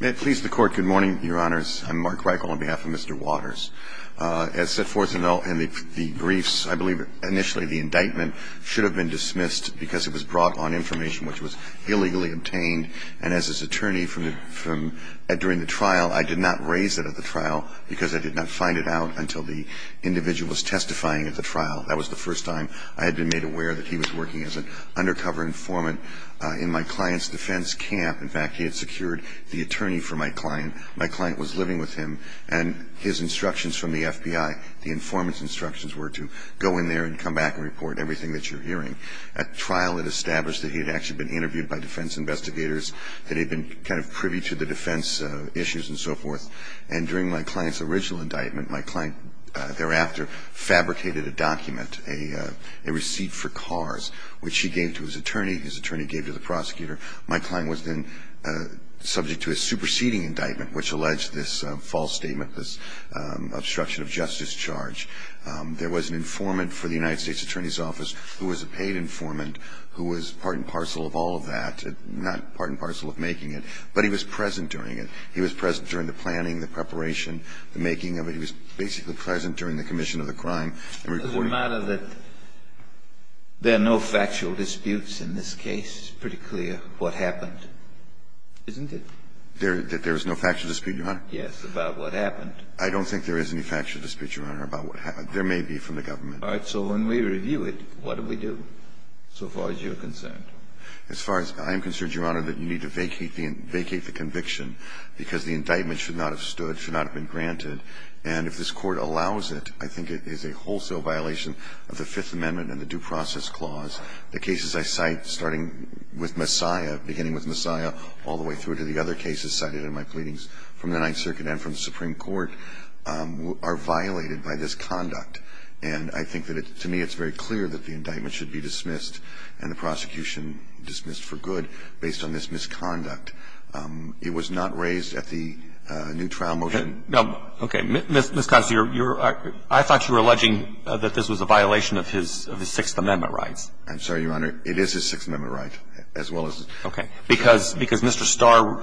May it please the Court, good morning, Your Honors. I'm Mark Reichel on behalf of Mr. Watters. As set forth in the briefs, I believe initially the indictment should have been dismissed because it was brought on information which was illegally obtained, and as his attorney during the trial, I did not raise it at the trial because I did not find it out until the individual was testifying at the trial. That was the first time I had been made aware that he was working as an undercover informant in my client's defense camp. In fact, he had secured the attorney for my client. My client was living with him, and his instructions from the FBI, the informant's instructions were to go in there and come back and report everything that you're hearing. At trial, it established that he had actually been interviewed by defense investigators, that he had been kind of privy to the defense issues and so forth, and during my client's original indictment, my client thereafter fabricated a document, a receipt for cars, which he gave to his attorney, his attorney gave to the prosecutor. My client was then subject to a superseding indictment which alleged this false statement, this obstruction of justice charge. There was an informant for the United States Attorney's Office who was a paid informant who was part and parcel of all of that, not part and parcel of making it, but he was present during it. He was present during the planning, the preparation, the making of it. He was basically present during the commission of the crime and reporting. It doesn't matter that there are no factual disputes in this case. It's pretty clear what happened, isn't it? There is no factual dispute, Your Honor. Yes, about what happened. I don't think there is any factual dispute, Your Honor, about what happened. There may be from the government. All right. So when we review it, what do we do so far as you're concerned? As far as I'm concerned, Your Honor, that you need to vacate the conviction because the indictment should not have stood, should not have been granted. And if this Court allows it, I think it is a wholesale violation of the Fifth Amendment and the Due Process Clause. The cases I cite, starting with Messiah, beginning with Messiah, all the way through to the other cases cited in my pleadings from the Ninth Circuit and from the Supreme Court, are violated by this conduct. And I think that to me it's very clear that the indictment should be dismissed and the prosecution dismissed for good based on this misconduct. It was not raised at the new trial motion. Now, okay. Mr. Connolly, I thought you were alleging that this was a violation of his Sixth Amendment rights. I'm sorry, Your Honor. It is his Sixth Amendment right, as well as the Fifth Amendment. Okay. Because Mr. Starr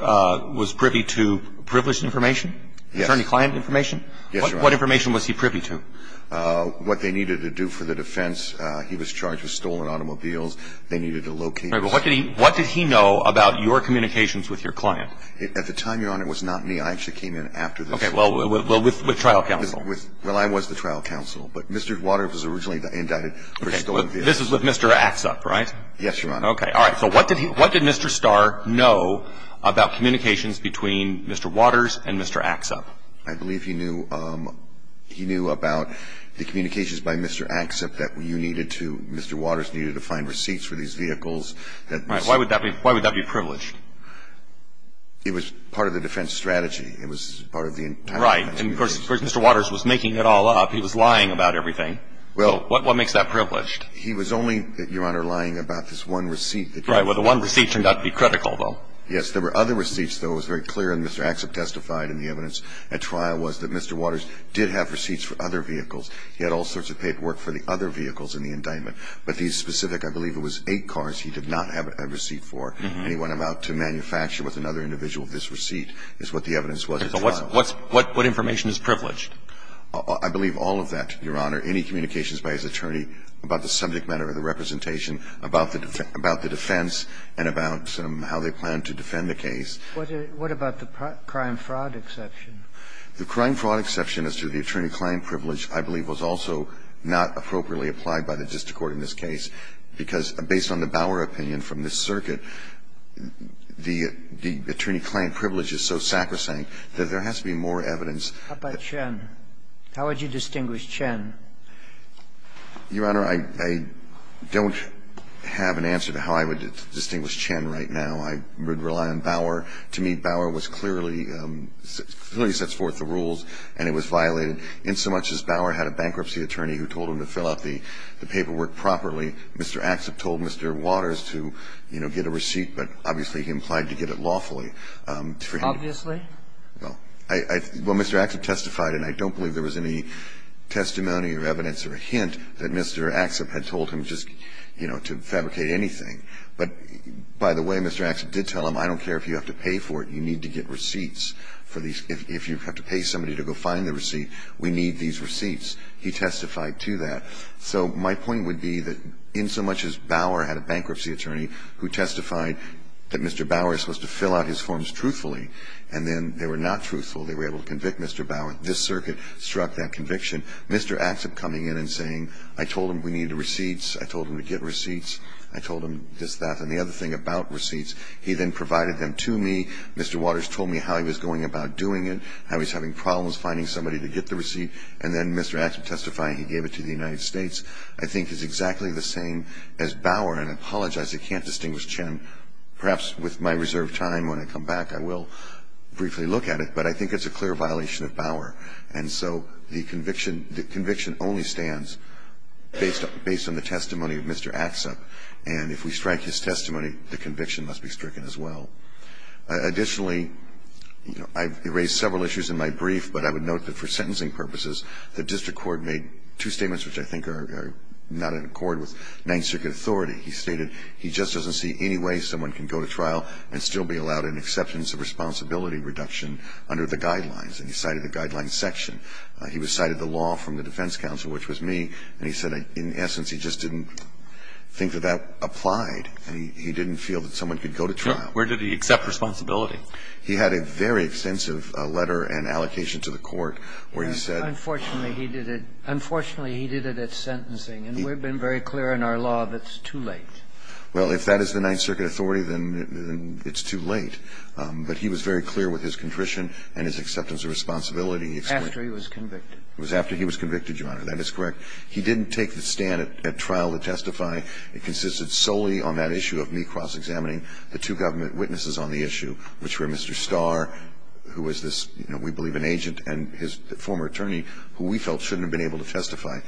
was privy to privileged information? Yes. Attorney-client information? Yes, Your Honor. What information was he privy to? Well, he was privy to the information that Mr. Starr was privy to. What they needed to do for the defense, he was charged with stolen automobiles. They needed to locate him. Right. But what did he know about your communications with your client? At the time, Your Honor, it was not me. I actually came in after this. Okay. Well, with trial counsel. Well, I was the trial counsel. But Mr. Waters was originally indicted for stolen vehicles. Okay. This was with Mr. Axup, right? Yes, Your Honor. Okay. All right. So what did Mr. Starr know about communications between Mr. Waters and Mr. Axup? I believe he knew about the communications by Mr. Axup that you needed to, Mr. Waters needed to find receipts for these vehicles. All right. Why would that be privileged? It was part of the defense strategy. It was part of the entire defense strategy. Right. And of course, Mr. Waters was making it all up. He was lying about everything. Well. What makes that privileged? He was only, Your Honor, lying about this one receipt. Right. Well, the one receipt turned out to be critical, though. Yes. There were other receipts, though. It was very clear. And Mr. Axup testified in the evidence at trial was that Mr. Waters did have receipts for other vehicles. He had all sorts of paperwork for the other vehicles in the indictment. But these specific, I believe it was eight cars, he did not have a receipt for. And he went about to manufacture with another individual. This receipt is what the evidence was at trial. So what information is privileged? I believe all of that, Your Honor. I don't think there are any communications by his attorney about the subject matter of the representation, about the defense, and about how they planned to defend the case. What about the crime-fraud exception? The crime-fraud exception as to the attorney-client privilege, I believe, was also not appropriately applied by the district court in this case, because based on the Bower opinion from this circuit, the attorney-client privilege is so sacrosanct that there has to be more evidence. How about Chen? How would you distinguish Chen? Your Honor, I don't have an answer to how I would distinguish Chen right now. I would rely on Bower. To me, Bower was clearly, clearly sets forth the rules and it was violated. Insomuch as Bower had a bankruptcy attorney who told him to fill out the paperwork properly, Mr. Axe told Mr. Waters to, you know, get a receipt, but obviously he implied to get it lawfully. Obviously? Well, Mr. Axe testified, and I don't believe there was any testimony or evidence or a hint that Mr. Axe had told him just, you know, to fabricate anything. But, by the way, Mr. Axe did tell him, I don't care if you have to pay for it, you need to get receipts for these. If you have to pay somebody to go find the receipt, we need these receipts. He testified to that. So my point would be that insomuch as Bower had a bankruptcy attorney who testified that Mr. Bowers was to fill out his forms truthfully, and then they were not truthful, they were able to convict Mr. Bower, this circuit struck that conviction. Mr. Axe coming in and saying, I told him we needed receipts, I told him to get receipts, I told him this, that, and the other thing about receipts, he then provided them to me, Mr. Waters told me how he was going about doing it, how he was having problems finding somebody to get the receipt, and then Mr. Axe testifying he gave it to the United States, I think is exactly the same as Bower. And I apologize, I can't distinguish Chen. Perhaps with my reserved time when I come back, I will briefly look at it, but I think it's a clear violation of Bower. And so the conviction only stands based on the testimony of Mr. Axe. And if we strike his testimony, the conviction must be stricken as well. Additionally, you know, I've raised several issues in my brief, but I would note that for sentencing purposes, the district court made two statements which I think are not in accord with Ninth Circuit authority. He stated he just doesn't see any way someone can go to trial and still be allowed an acceptance of responsibility reduction under the guidelines, and he cited the guidelines section. He recited the law from the defense counsel, which was me, and he said in essence he just didn't think that that applied, and he didn't feel that someone could go to trial. Where did he accept responsibility? He had a very extensive letter and allocation to the court where he said Unfortunately, he did it at sentencing. And we've been very clear in our law that it's too late. Well, if that is the Ninth Circuit authority, then it's too late. But he was very clear with his contrition and his acceptance of responsibility. He explained it. After he was convicted. It was after he was convicted, Your Honor. That is correct. He didn't take the stand at trial to testify. It consisted solely on that issue of me cross-examining the two government witnesses on the issue, which were Mr. Starr, who was this, you know, we believe an agent, and his former attorney, who we felt shouldn't have been able to testify.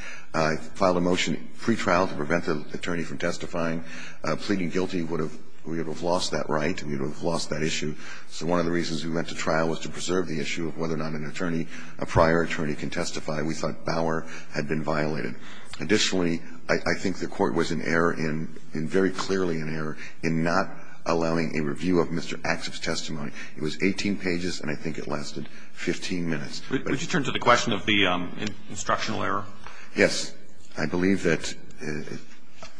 Filed a motion pretrial to prevent the attorney from testifying. Pleading guilty would have we would have lost that right. We would have lost that issue. So one of the reasons we went to trial was to preserve the issue of whether or not an attorney, a prior attorney, can testify. We thought Bower had been violated. Additionally, I think the Court was in error, in very clearly in error, in not allowing a review of Mr. Axe's testimony. It was 18 pages, and I think it lasted 15 minutes. Would you turn to the question of the instructional error? Yes. I believe that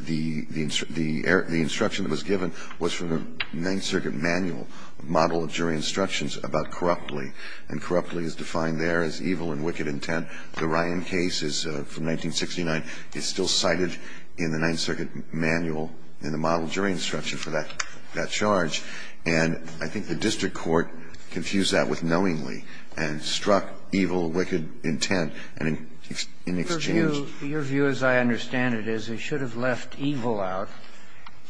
the instruction that was given was from the Ninth Circuit manual model of jury instructions about corruptly, and corruptly is defined there as evil and wicked intent. The Ryan case is from 1969. It's still cited in the Ninth Circuit manual in the model jury instruction for that charge. And I think the district court confused that with knowingly and struck evil, wicked intent in exchange. Your view, as I understand it, is they should have left evil out,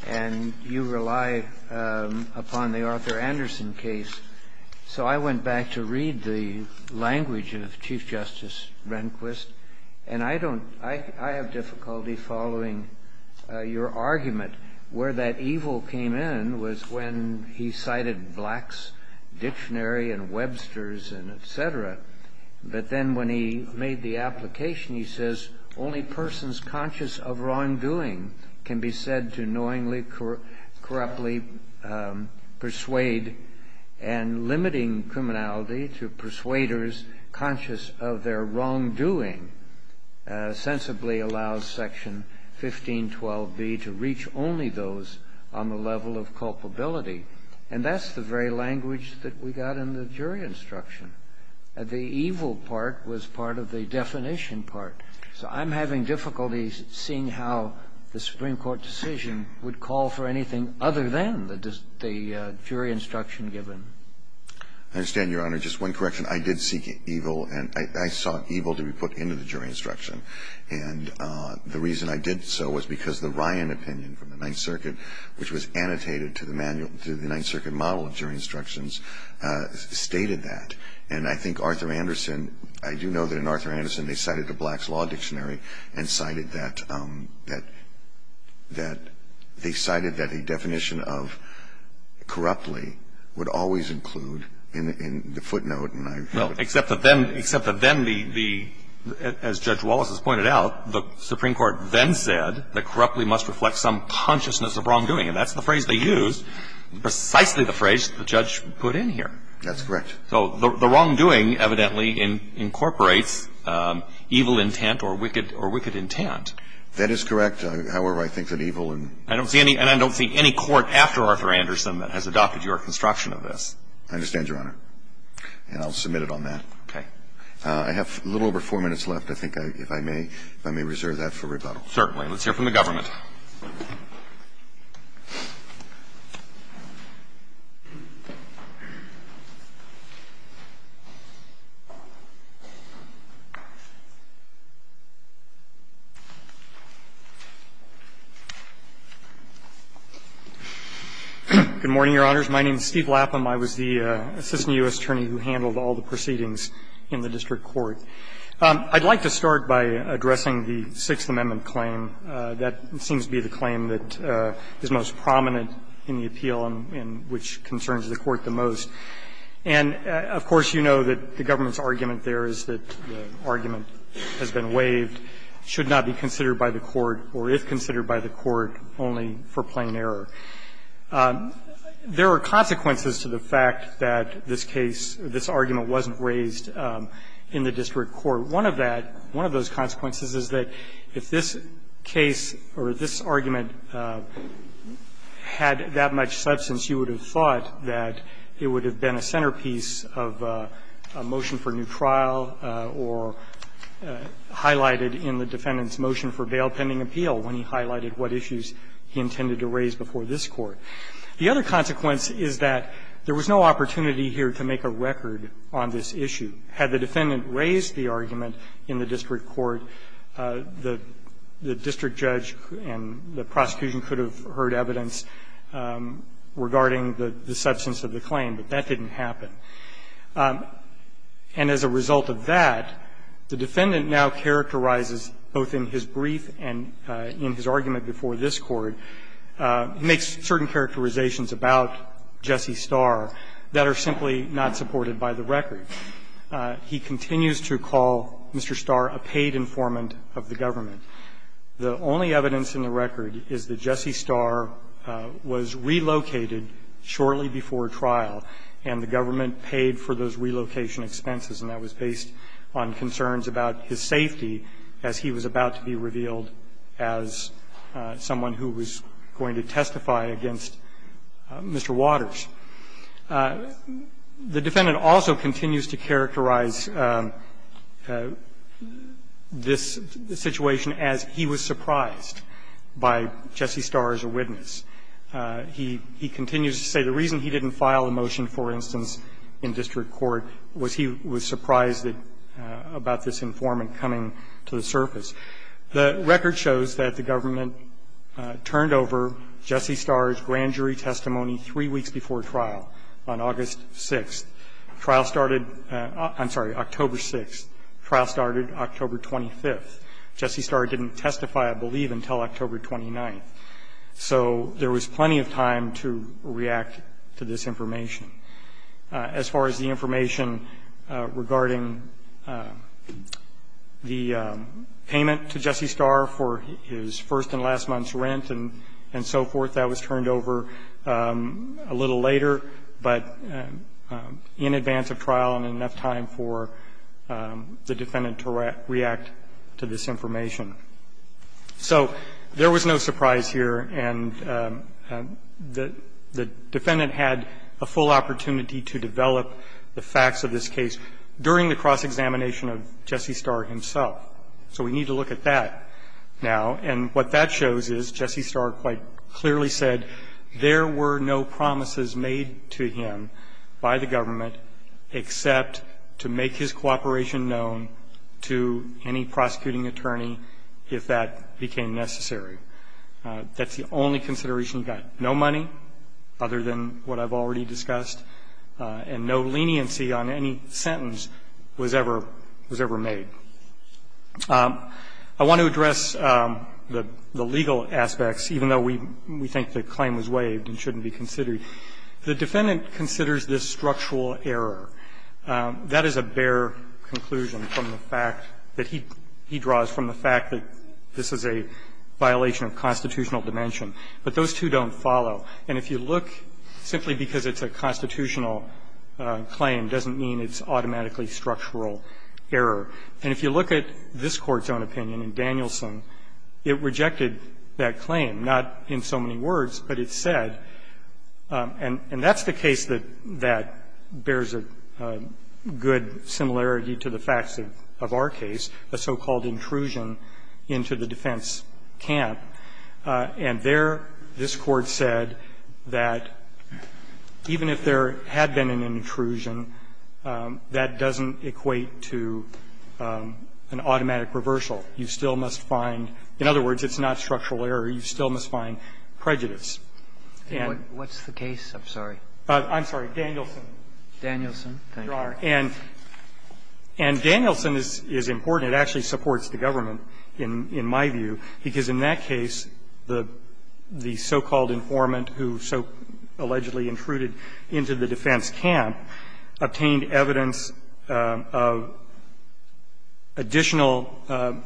and you rely upon the Arthur Anderson case. So I went back to read the language of Chief Justice Rehnquist, and I don't – I have difficulty following your argument. Where that evil came in was when he cited Black's Dictionary and Webster's and et cetera. But then when he made the application, he says only persons conscious of wrongdoing can be said to knowingly, corruptly persuade, and limiting criminality to persuaders conscious of their wrongdoing sensibly allows Section 1512b to reach only those on the level of culpability. And that's the very language that we got in the jury instruction. The evil part was part of the definition part. So I'm having difficulties seeing how the Supreme Court decision would call for anything other than the jury instruction given. I understand, Your Honor. Just one correction. I did seek evil, and I sought evil to be put into the jury instruction. And the reason I did so was because the Ryan opinion from the Ninth Circuit, which was annotated to the manual – to the Ninth Circuit model of jury instructions stated that. And I think Arthur Anderson – I do know that in Arthur Anderson they cited the Black's Law Dictionary and cited that – that they cited that a definition of corruptly would always include in the footnote. Well, except that then – except that then the – as Judge Wallace has pointed out, the Supreme Court then said that corruptly must reflect some consciousness of wrongdoing. And that's the phrase they used, precisely the phrase the judge put in here. That's correct. So the wrongdoing evidently incorporates evil intent or wicked – or wicked intent. That is correct. However, I think that evil and – I don't see any – and I don't see any court after Arthur Anderson that has adopted your construction of this. I understand, Your Honor. And I'll submit it on that. Okay. I have a little over four minutes left. I think I – if I may – if I may reserve that for rebuttal. Certainly. Let's hear from the government. Good morning, Your Honors. My name is Steve Lapham. I was the Assistant U.S. Attorney who handled all the proceedings in the district court. I'd like to start by addressing the Sixth Amendment claim. That seems to be the claim that is most prominent in the appeal and which concerns the court the most. And, of course, you know that the government's argument there is that the argument has been waived, should not be considered by the court, or if considered by the court, only for plain error. There are consequences to the fact that this case, this argument wasn't raised in the district court. One of that – one of those consequences is that if this case or this argument had that much substance, you would have thought that it would have been a centerpiece of a motion for new trial or highlighted in the defendant's motion for bail pending appeal when he highlighted what issues he intended to raise before this Court. The other consequence is that there was no opportunity here to make a record on this issue. Had the defendant raised the argument in the district court, the district judge and the prosecution could have heard evidence regarding the substance of the claim, but that didn't happen. And as a result of that, the defendant now characterizes, both in his brief and in his argument before this Court, makes certain characterizations about Jesse Starr that are simply not supported by the record. He continues to call Mr. Starr a paid informant of the government. The only evidence in the record is that Jesse Starr was relocated shortly before trial, and the government paid for those relocation expenses, and that was based on concerns about his safety as he was about to be revealed as someone who was going to testify against Mr. Waters. The defendant also continues to characterize this situation as he was surprised by Jesse Starr as a witness. He continues to say the reason he didn't file a motion, for instance, in district court was he was surprised about this informant coming to the surface. The record shows that the government turned over Jesse Starr's grand jury testimony three weeks before trial on August 6th. Trial started – I'm sorry, October 6th. Trial started October 25th. Jesse Starr didn't testify, I believe, until October 29th. So there was plenty of time to react to this information. As far as the information regarding the payment to Jesse Starr for his first and last month's rent and so forth, that was turned over a little later, but in advance of trial and enough time for the defendant to react to this information. So there was no surprise here, and the defendant had a full opportunity to develop the facts of this case during the cross-examination of Jesse Starr himself. So we need to look at that now. And what that shows is Jesse Starr quite clearly said there were no promises made to him by the government except to make his cooperation known to any prosecuting attorney if that became necessary. That's the only consideration. He got no money other than what I've already discussed, and no leniency on any sentence was ever – was ever made. I want to address the legal aspects, even though we think the claim was waived and shouldn't be considered. The defendant considers this structural error. That is a bare conclusion from the fact that he – he draws from the fact that this is a violation of constitutional dimension. But those two don't follow. And if you look, simply because it's a constitutional claim doesn't mean it's automatically structural error. And if you look at this Court's own opinion in Danielson, it rejected that claim, not in so many words, but it said – and that's the case that bears a clear good similarity to the facts of our case, a so-called intrusion into the defense camp. And there this Court said that even if there had been an intrusion, that doesn't equate to an automatic reversal. You still must find – in other words, it's not structural error. You still must find prejudice. And what's the case? I'm sorry. I'm sorry. Danielson. Danielson. And Danielson is important. It actually supports the government, in my view, because in that case, the so-called informant who so allegedly intruded into the defense camp obtained evidence of additional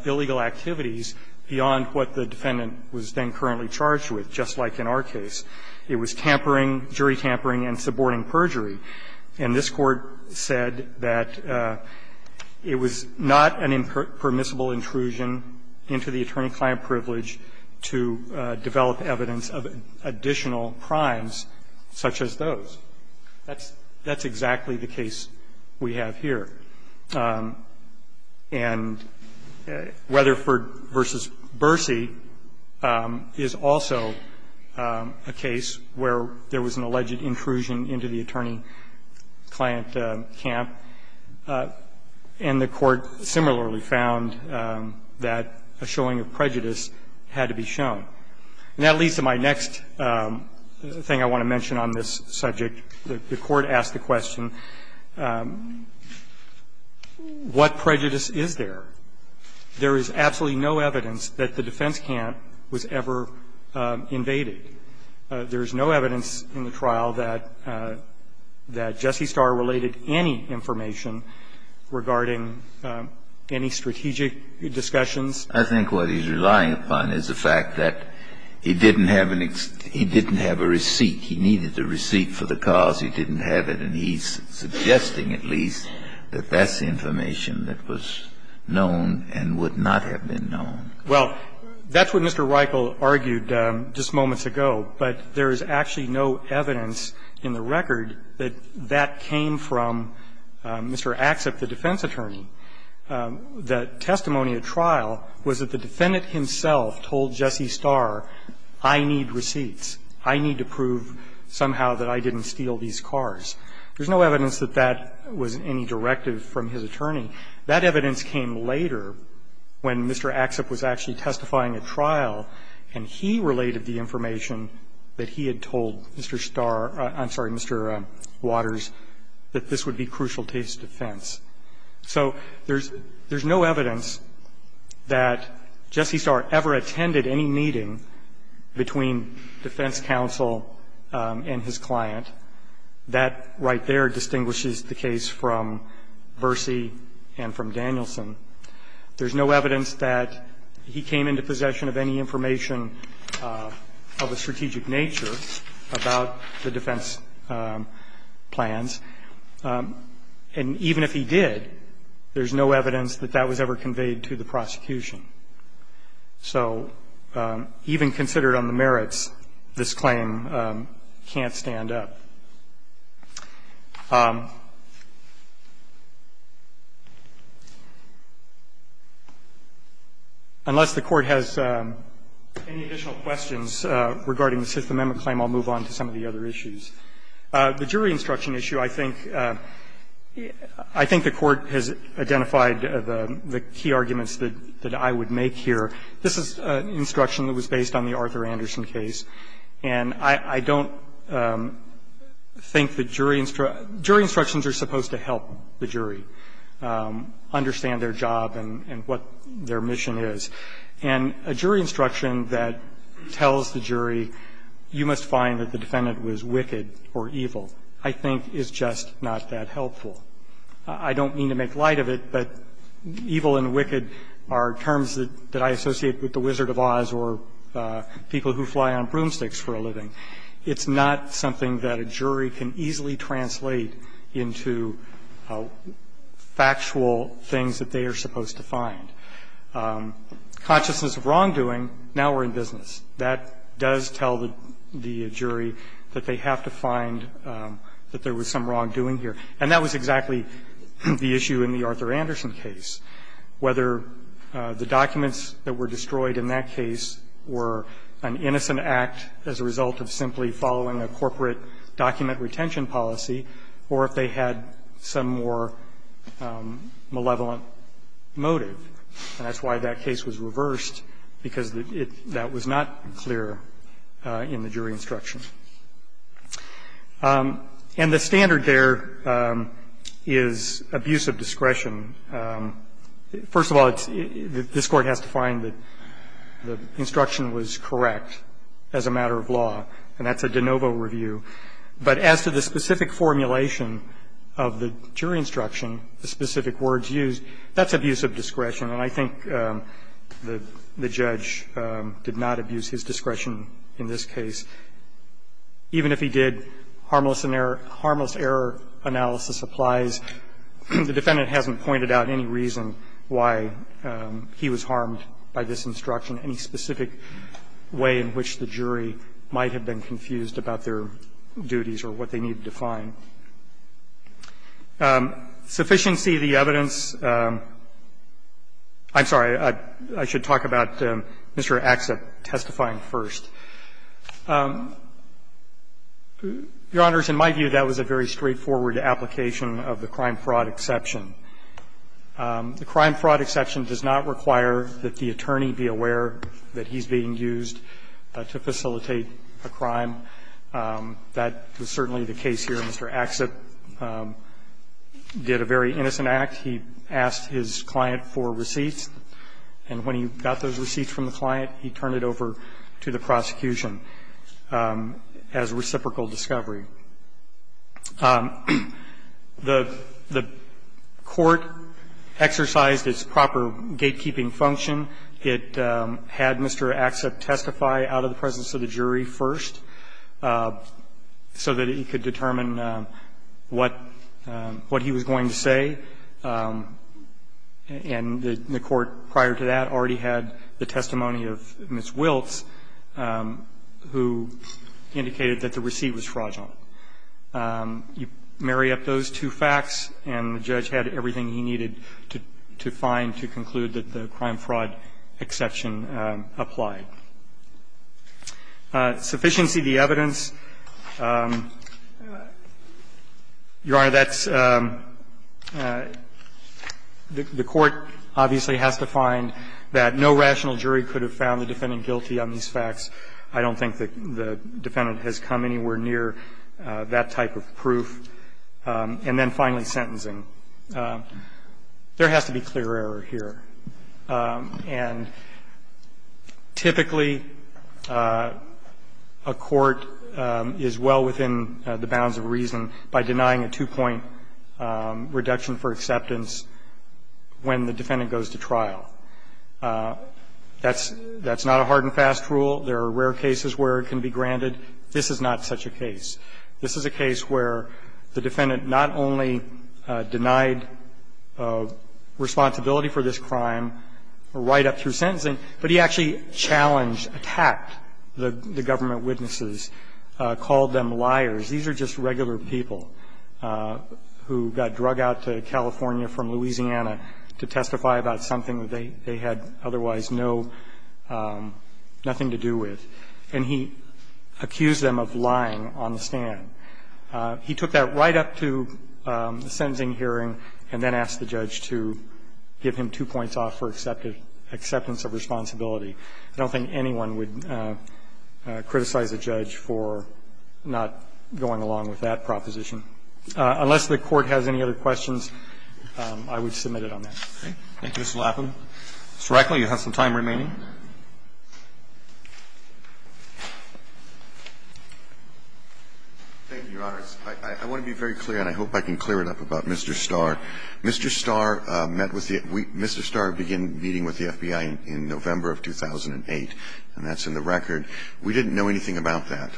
illegal activities beyond what the defendant was then currently charged with, just like in our case. It was tampering, jury tampering, and suborning perjury. And this Court said that it was not a permissible intrusion into the attorney client privilege to develop evidence of additional crimes such as those. That's exactly the case we have here. And Weatherford v. Bursey is also a case where there was an alleged intrusion into the attorney client camp, and the Court similarly found that a showing of prejudice had to be shown. And that leads to my next thing I want to mention on this subject. The Court asked the question, what prejudice is there? There is absolutely no evidence that the defense camp was ever invaded. There is no evidence in the trial that Jesse Starr related any information regarding any strategic discussions. I think what he's relying upon is the fact that he didn't have a receipt. He needed the receipt for the cause. He didn't have it. And he's suggesting at least that that's information that was known and would not have been known. Well, that's what Mr. Reichel argued just moments ago, but there is actually no evidence in the record that that came from Mr. Axep, the defense attorney. The testimony at trial was that the defendant himself told Jesse Starr, I need receipts. I need to prove somehow that I didn't steal these cars. There's no evidence that that was any directive from his attorney. That evidence came later when Mr. Axep was actually testifying at trial and he related the information that he had told Mr. Starr or, I'm sorry, Mr. Waters that this would be crucial to his defense. So there's no evidence that Jesse Starr ever attended any meeting between defense counsel and his client. That right there distinguishes the case from Bercy and from Danielson. There's no evidence that he came into possession of any information of a strategic nature about the defense plans. And even if he did, there's no evidence that that was ever conveyed to the prosecution. So even considered on the merits, this claim can't stand up. Unless the Court has any additional questions regarding the Fifth Amendment claim, I'll move on to some of the other issues. The jury instruction issue, I think the Court has identified the key arguments that I would make here. This is an instruction that was based on the Arthur Anderson case, and I don't think that jury instructions are supposed to help the jury understand their job and what their mission is. And a jury instruction that tells the jury, you must find that the defendant was wicked or evil, I think is just not that helpful. I don't mean to make light of it, but evil and wicked are terms that I associate with the Wizard of Oz or people who fly on broomsticks for a living. It's not something that a jury can easily translate into factual things that they are supposed to find. Consciousness of wrongdoing, now we're in business. That does tell the jury that they have to find that there was some wrongdoing here. And that was exactly the issue in the Arthur Anderson case. Whether the documents that were destroyed in that case were an innocent act as a result of simply following a corporate document retention policy or if they had some more malevolent motive. And that's why that case was reversed, because that was not clear in the jury instruction. And the standard there is abuse of discretion. First of all, this Court has to find that the instruction was correct as a matter of law, and that's a de novo review. But as to the specific formulation of the jury instruction, the specific words used, that's abuse of discretion. And I think the judge did not abuse his discretion in this case. Even if he did, harmless error analysis applies. The defendant hasn't pointed out any reason why he was harmed by this instruction, any specific way in which the jury might have been confused about their duties or what they need to find. Sufficiency of the evidence. I'm sorry. I should talk about Mr. Axep testifying first. Your Honors, in my view, that was a very straightforward application of the crime fraud exception. The crime fraud exception does not require that the attorney be aware that he's being used to facilitate a crime. That was certainly the case here. Mr. Axep did a very innocent act. He asked his client for receipts, and when he got those receipts from the client, he turned it over to the prosecution as reciprocal discovery. The court exercised its proper gatekeeping function. It had Mr. Axep testify out of the presence of the jury first, so that he could determine what he was going to say. And the court prior to that already had the testimony of Ms. Wiltz, who indicated that the receipt was fraudulent. You marry up those two facts, and the judge had everything he needed to find to conclude that the crime fraud exception applied. Sufficiency of the evidence. Your Honor, that's the court obviously has to find that no rational jury could have found the defendant guilty on these facts. I don't think the defendant has come anywhere near that type of proof. And then finally, sentencing. There has to be clear error here. And typically, a court is well within the bounds of reason by denying a two-point reduction for acceptance when the defendant goes to trial. That's not a hard and fast rule. There are rare cases where it can be granted. This is not such a case. This is a case where the defendant not only denied responsibility for this crime right up through sentencing, but he actually challenged, attacked the government witnesses, called them liars. These are just regular people who got drug out to California from Louisiana to testify about something that they had otherwise no, nothing to do with. And he accused them of lying on the stand. He took that right up to the sentencing hearing and then asked the judge to give him two points off for acceptance of responsibility. I don't think anyone would criticize a judge for not going along with that proposition. Unless the Court has any other questions, I would submit it on that. Thank you, Mr. Lapham. Mr. Reichle, you have some time remaining. Thank you, Your Honors. I want to be very clear, and I hope I can clear it up about Mr. Starr. Mr. Starr met with the Mr. Starr began meeting with the FBI in November of 2008. And that's in the record. We didn't know anything about that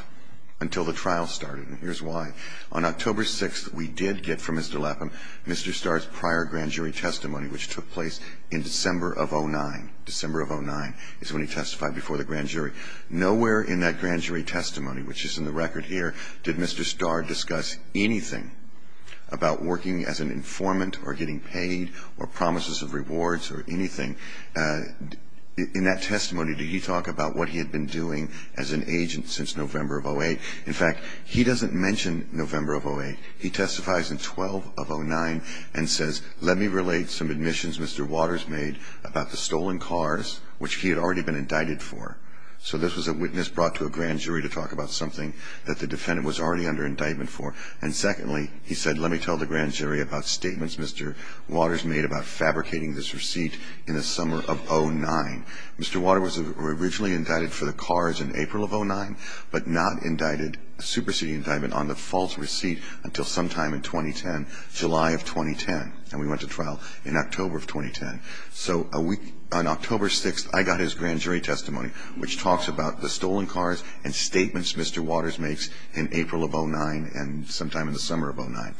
until the trial started, and here's why. On October 6th, we did get from Mr. Lapham Mr. Starr's prior grand jury testimony, which took place in December of 2009. December of 2009 is when he testified before the grand jury. Nowhere in that grand jury testimony, which is in the record here, did Mr. Starr discuss anything about working as an informant or getting paid or promises of rewards or anything. In that testimony, did he talk about what he had been doing as an agent since November of 2008? In fact, he doesn't mention November of 2008. He testifies in 12 of 09 and says, let me relate some admissions Mr. Waters made about the stolen cars, which he had already been indicted for. So this was a witness brought to a grand jury to talk about something that the defendant was already under indictment for. And secondly, he said, let me tell the grand jury about statements Mr. Waters made about fabricating this receipt in the summer of 09. Mr. Waters was originally indicted for the cars in April of 09, but not indicted, superseding indictment, on the false receipt until sometime in 2010, July of 2010. And we went to trial in October of 2010. So a week, on October 6th, I got his grand jury testimony, which talks about the stolen cars and statements Mr. Waters makes in April of 09 and sometime in the summer of 09.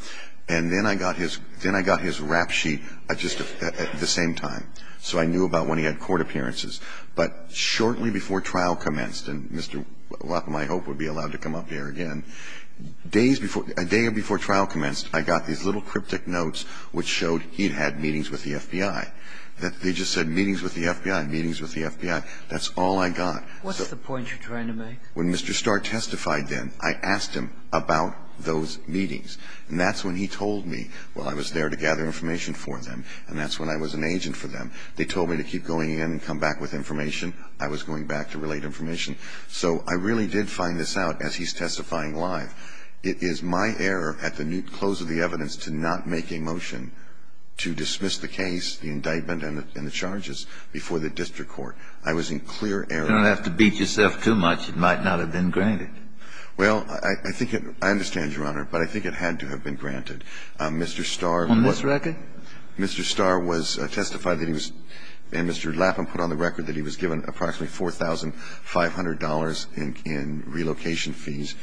And then I got his, then I got his rap sheet at just the same time. So I knew about when he had court appearances. But shortly before trial commenced, and Mr. Wacken, I hope, would be allowed to come up here again, days before, a day before trial commenced, I got these little cryptic notes which showed he had had meetings with the FBI. They just said meetings with the FBI, meetings with the FBI. That's all I got. What's the point you're trying to make? When Mr. Starr testified then, I asked him about those meetings. And that's when he told me, well, I was there to gather information for them, and that's when I was an agent for them. They told me to keep going in and come back with information. I was going back to relate information. So I really did find this out as he's testifying live. It is my error at the close of the evidence to not make a motion to dismiss the case, the indictment and the charges before the district court. I was in clear error. You don't have to beat yourself too much. It might not have been granted. Well, I think it – I understand, Your Honor. But I think it had to have been granted. Mr. Starr was – On this record? Mr. Starr was – testified that he was – and Mr. Lapham put on the record that he was given approximately $4,500 in relocation fees.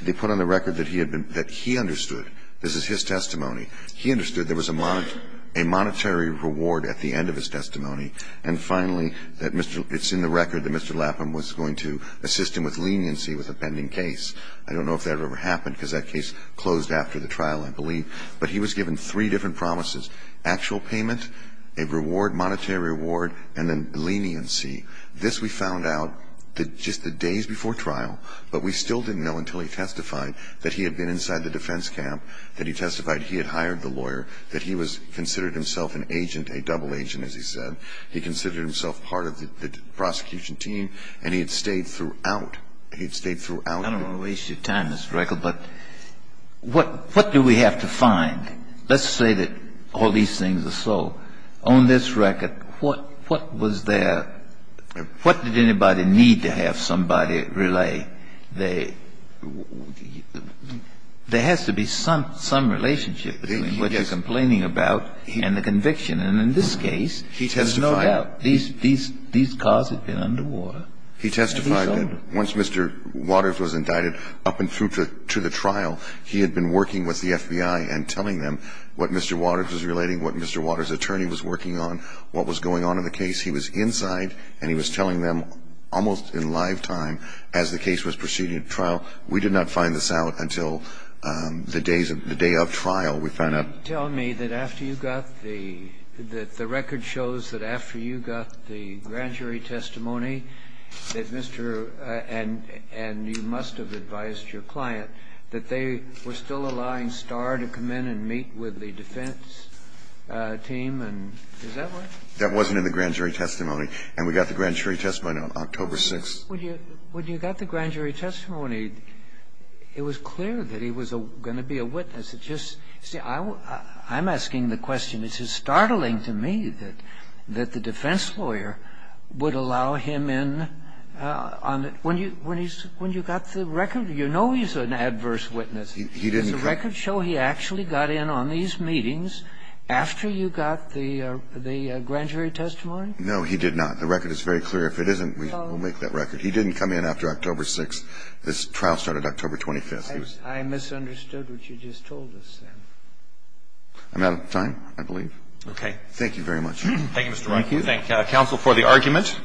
They put on the record that he had been – that he understood – this is his testimony – he understood there was a monetary reward at the end of his testimony. And finally, that Mr. – it's in the record that Mr. Lapham was going to assist him with leniency with a pending case. I don't know if that ever happened because that case closed after the trial, I believe. But he was given three different promises, actual payment, a reward, monetary reward, and then leniency. This we found out just the days before trial. But we still didn't know until he testified that he had been inside the defense camp, that he testified he had hired the lawyer, that he was – considered himself an agent, a double agent, as he said. He considered himself part of the prosecution team. And he had stayed throughout. He had stayed throughout. I don't want to waste your time, Mr. Reichelt, but what do we have to find? Let's say that all these things are so. On this record, what was there? What did anybody need to have somebody relay? There has to be some relationship between what you're complaining about and the conviction. And in this case, there's no doubt these cars had been underwater. He testified that once Mr. Waters was indicted, up and through to the trial, he had been working with the FBI and telling them what Mr. Waters was relating, what Mr. Waters' attorney was working on, what was going on in the case. He was inside and he was telling them almost in live time as the case was proceeding to trial. We did not find this out until the days of – the day of trial. We found out – And you must have advised your client that they were still allowing Starr to come in and meet with the defense team. Is that right? That wasn't in the grand jury testimony. And we got the grand jury testimony on October 6th. When you got the grand jury testimony, it was clear that he was going to be a witness. It just – see, I'm asking the question. It's just startling to me that the defense lawyer would allow him in on – when you got the record, you know he's an adverse witness. He didn't come. Does the record show he actually got in on these meetings after you got the grand jury testimony? No, he did not. The record is very clear. If it isn't, we'll make that record. He didn't come in after October 6th. This trial started October 25th. I misunderstood what you just told us then. I'm out of time, I believe. Okay. Thank you very much. Thank you, Mr. Wright. Thank you. Thank counsel for the argument.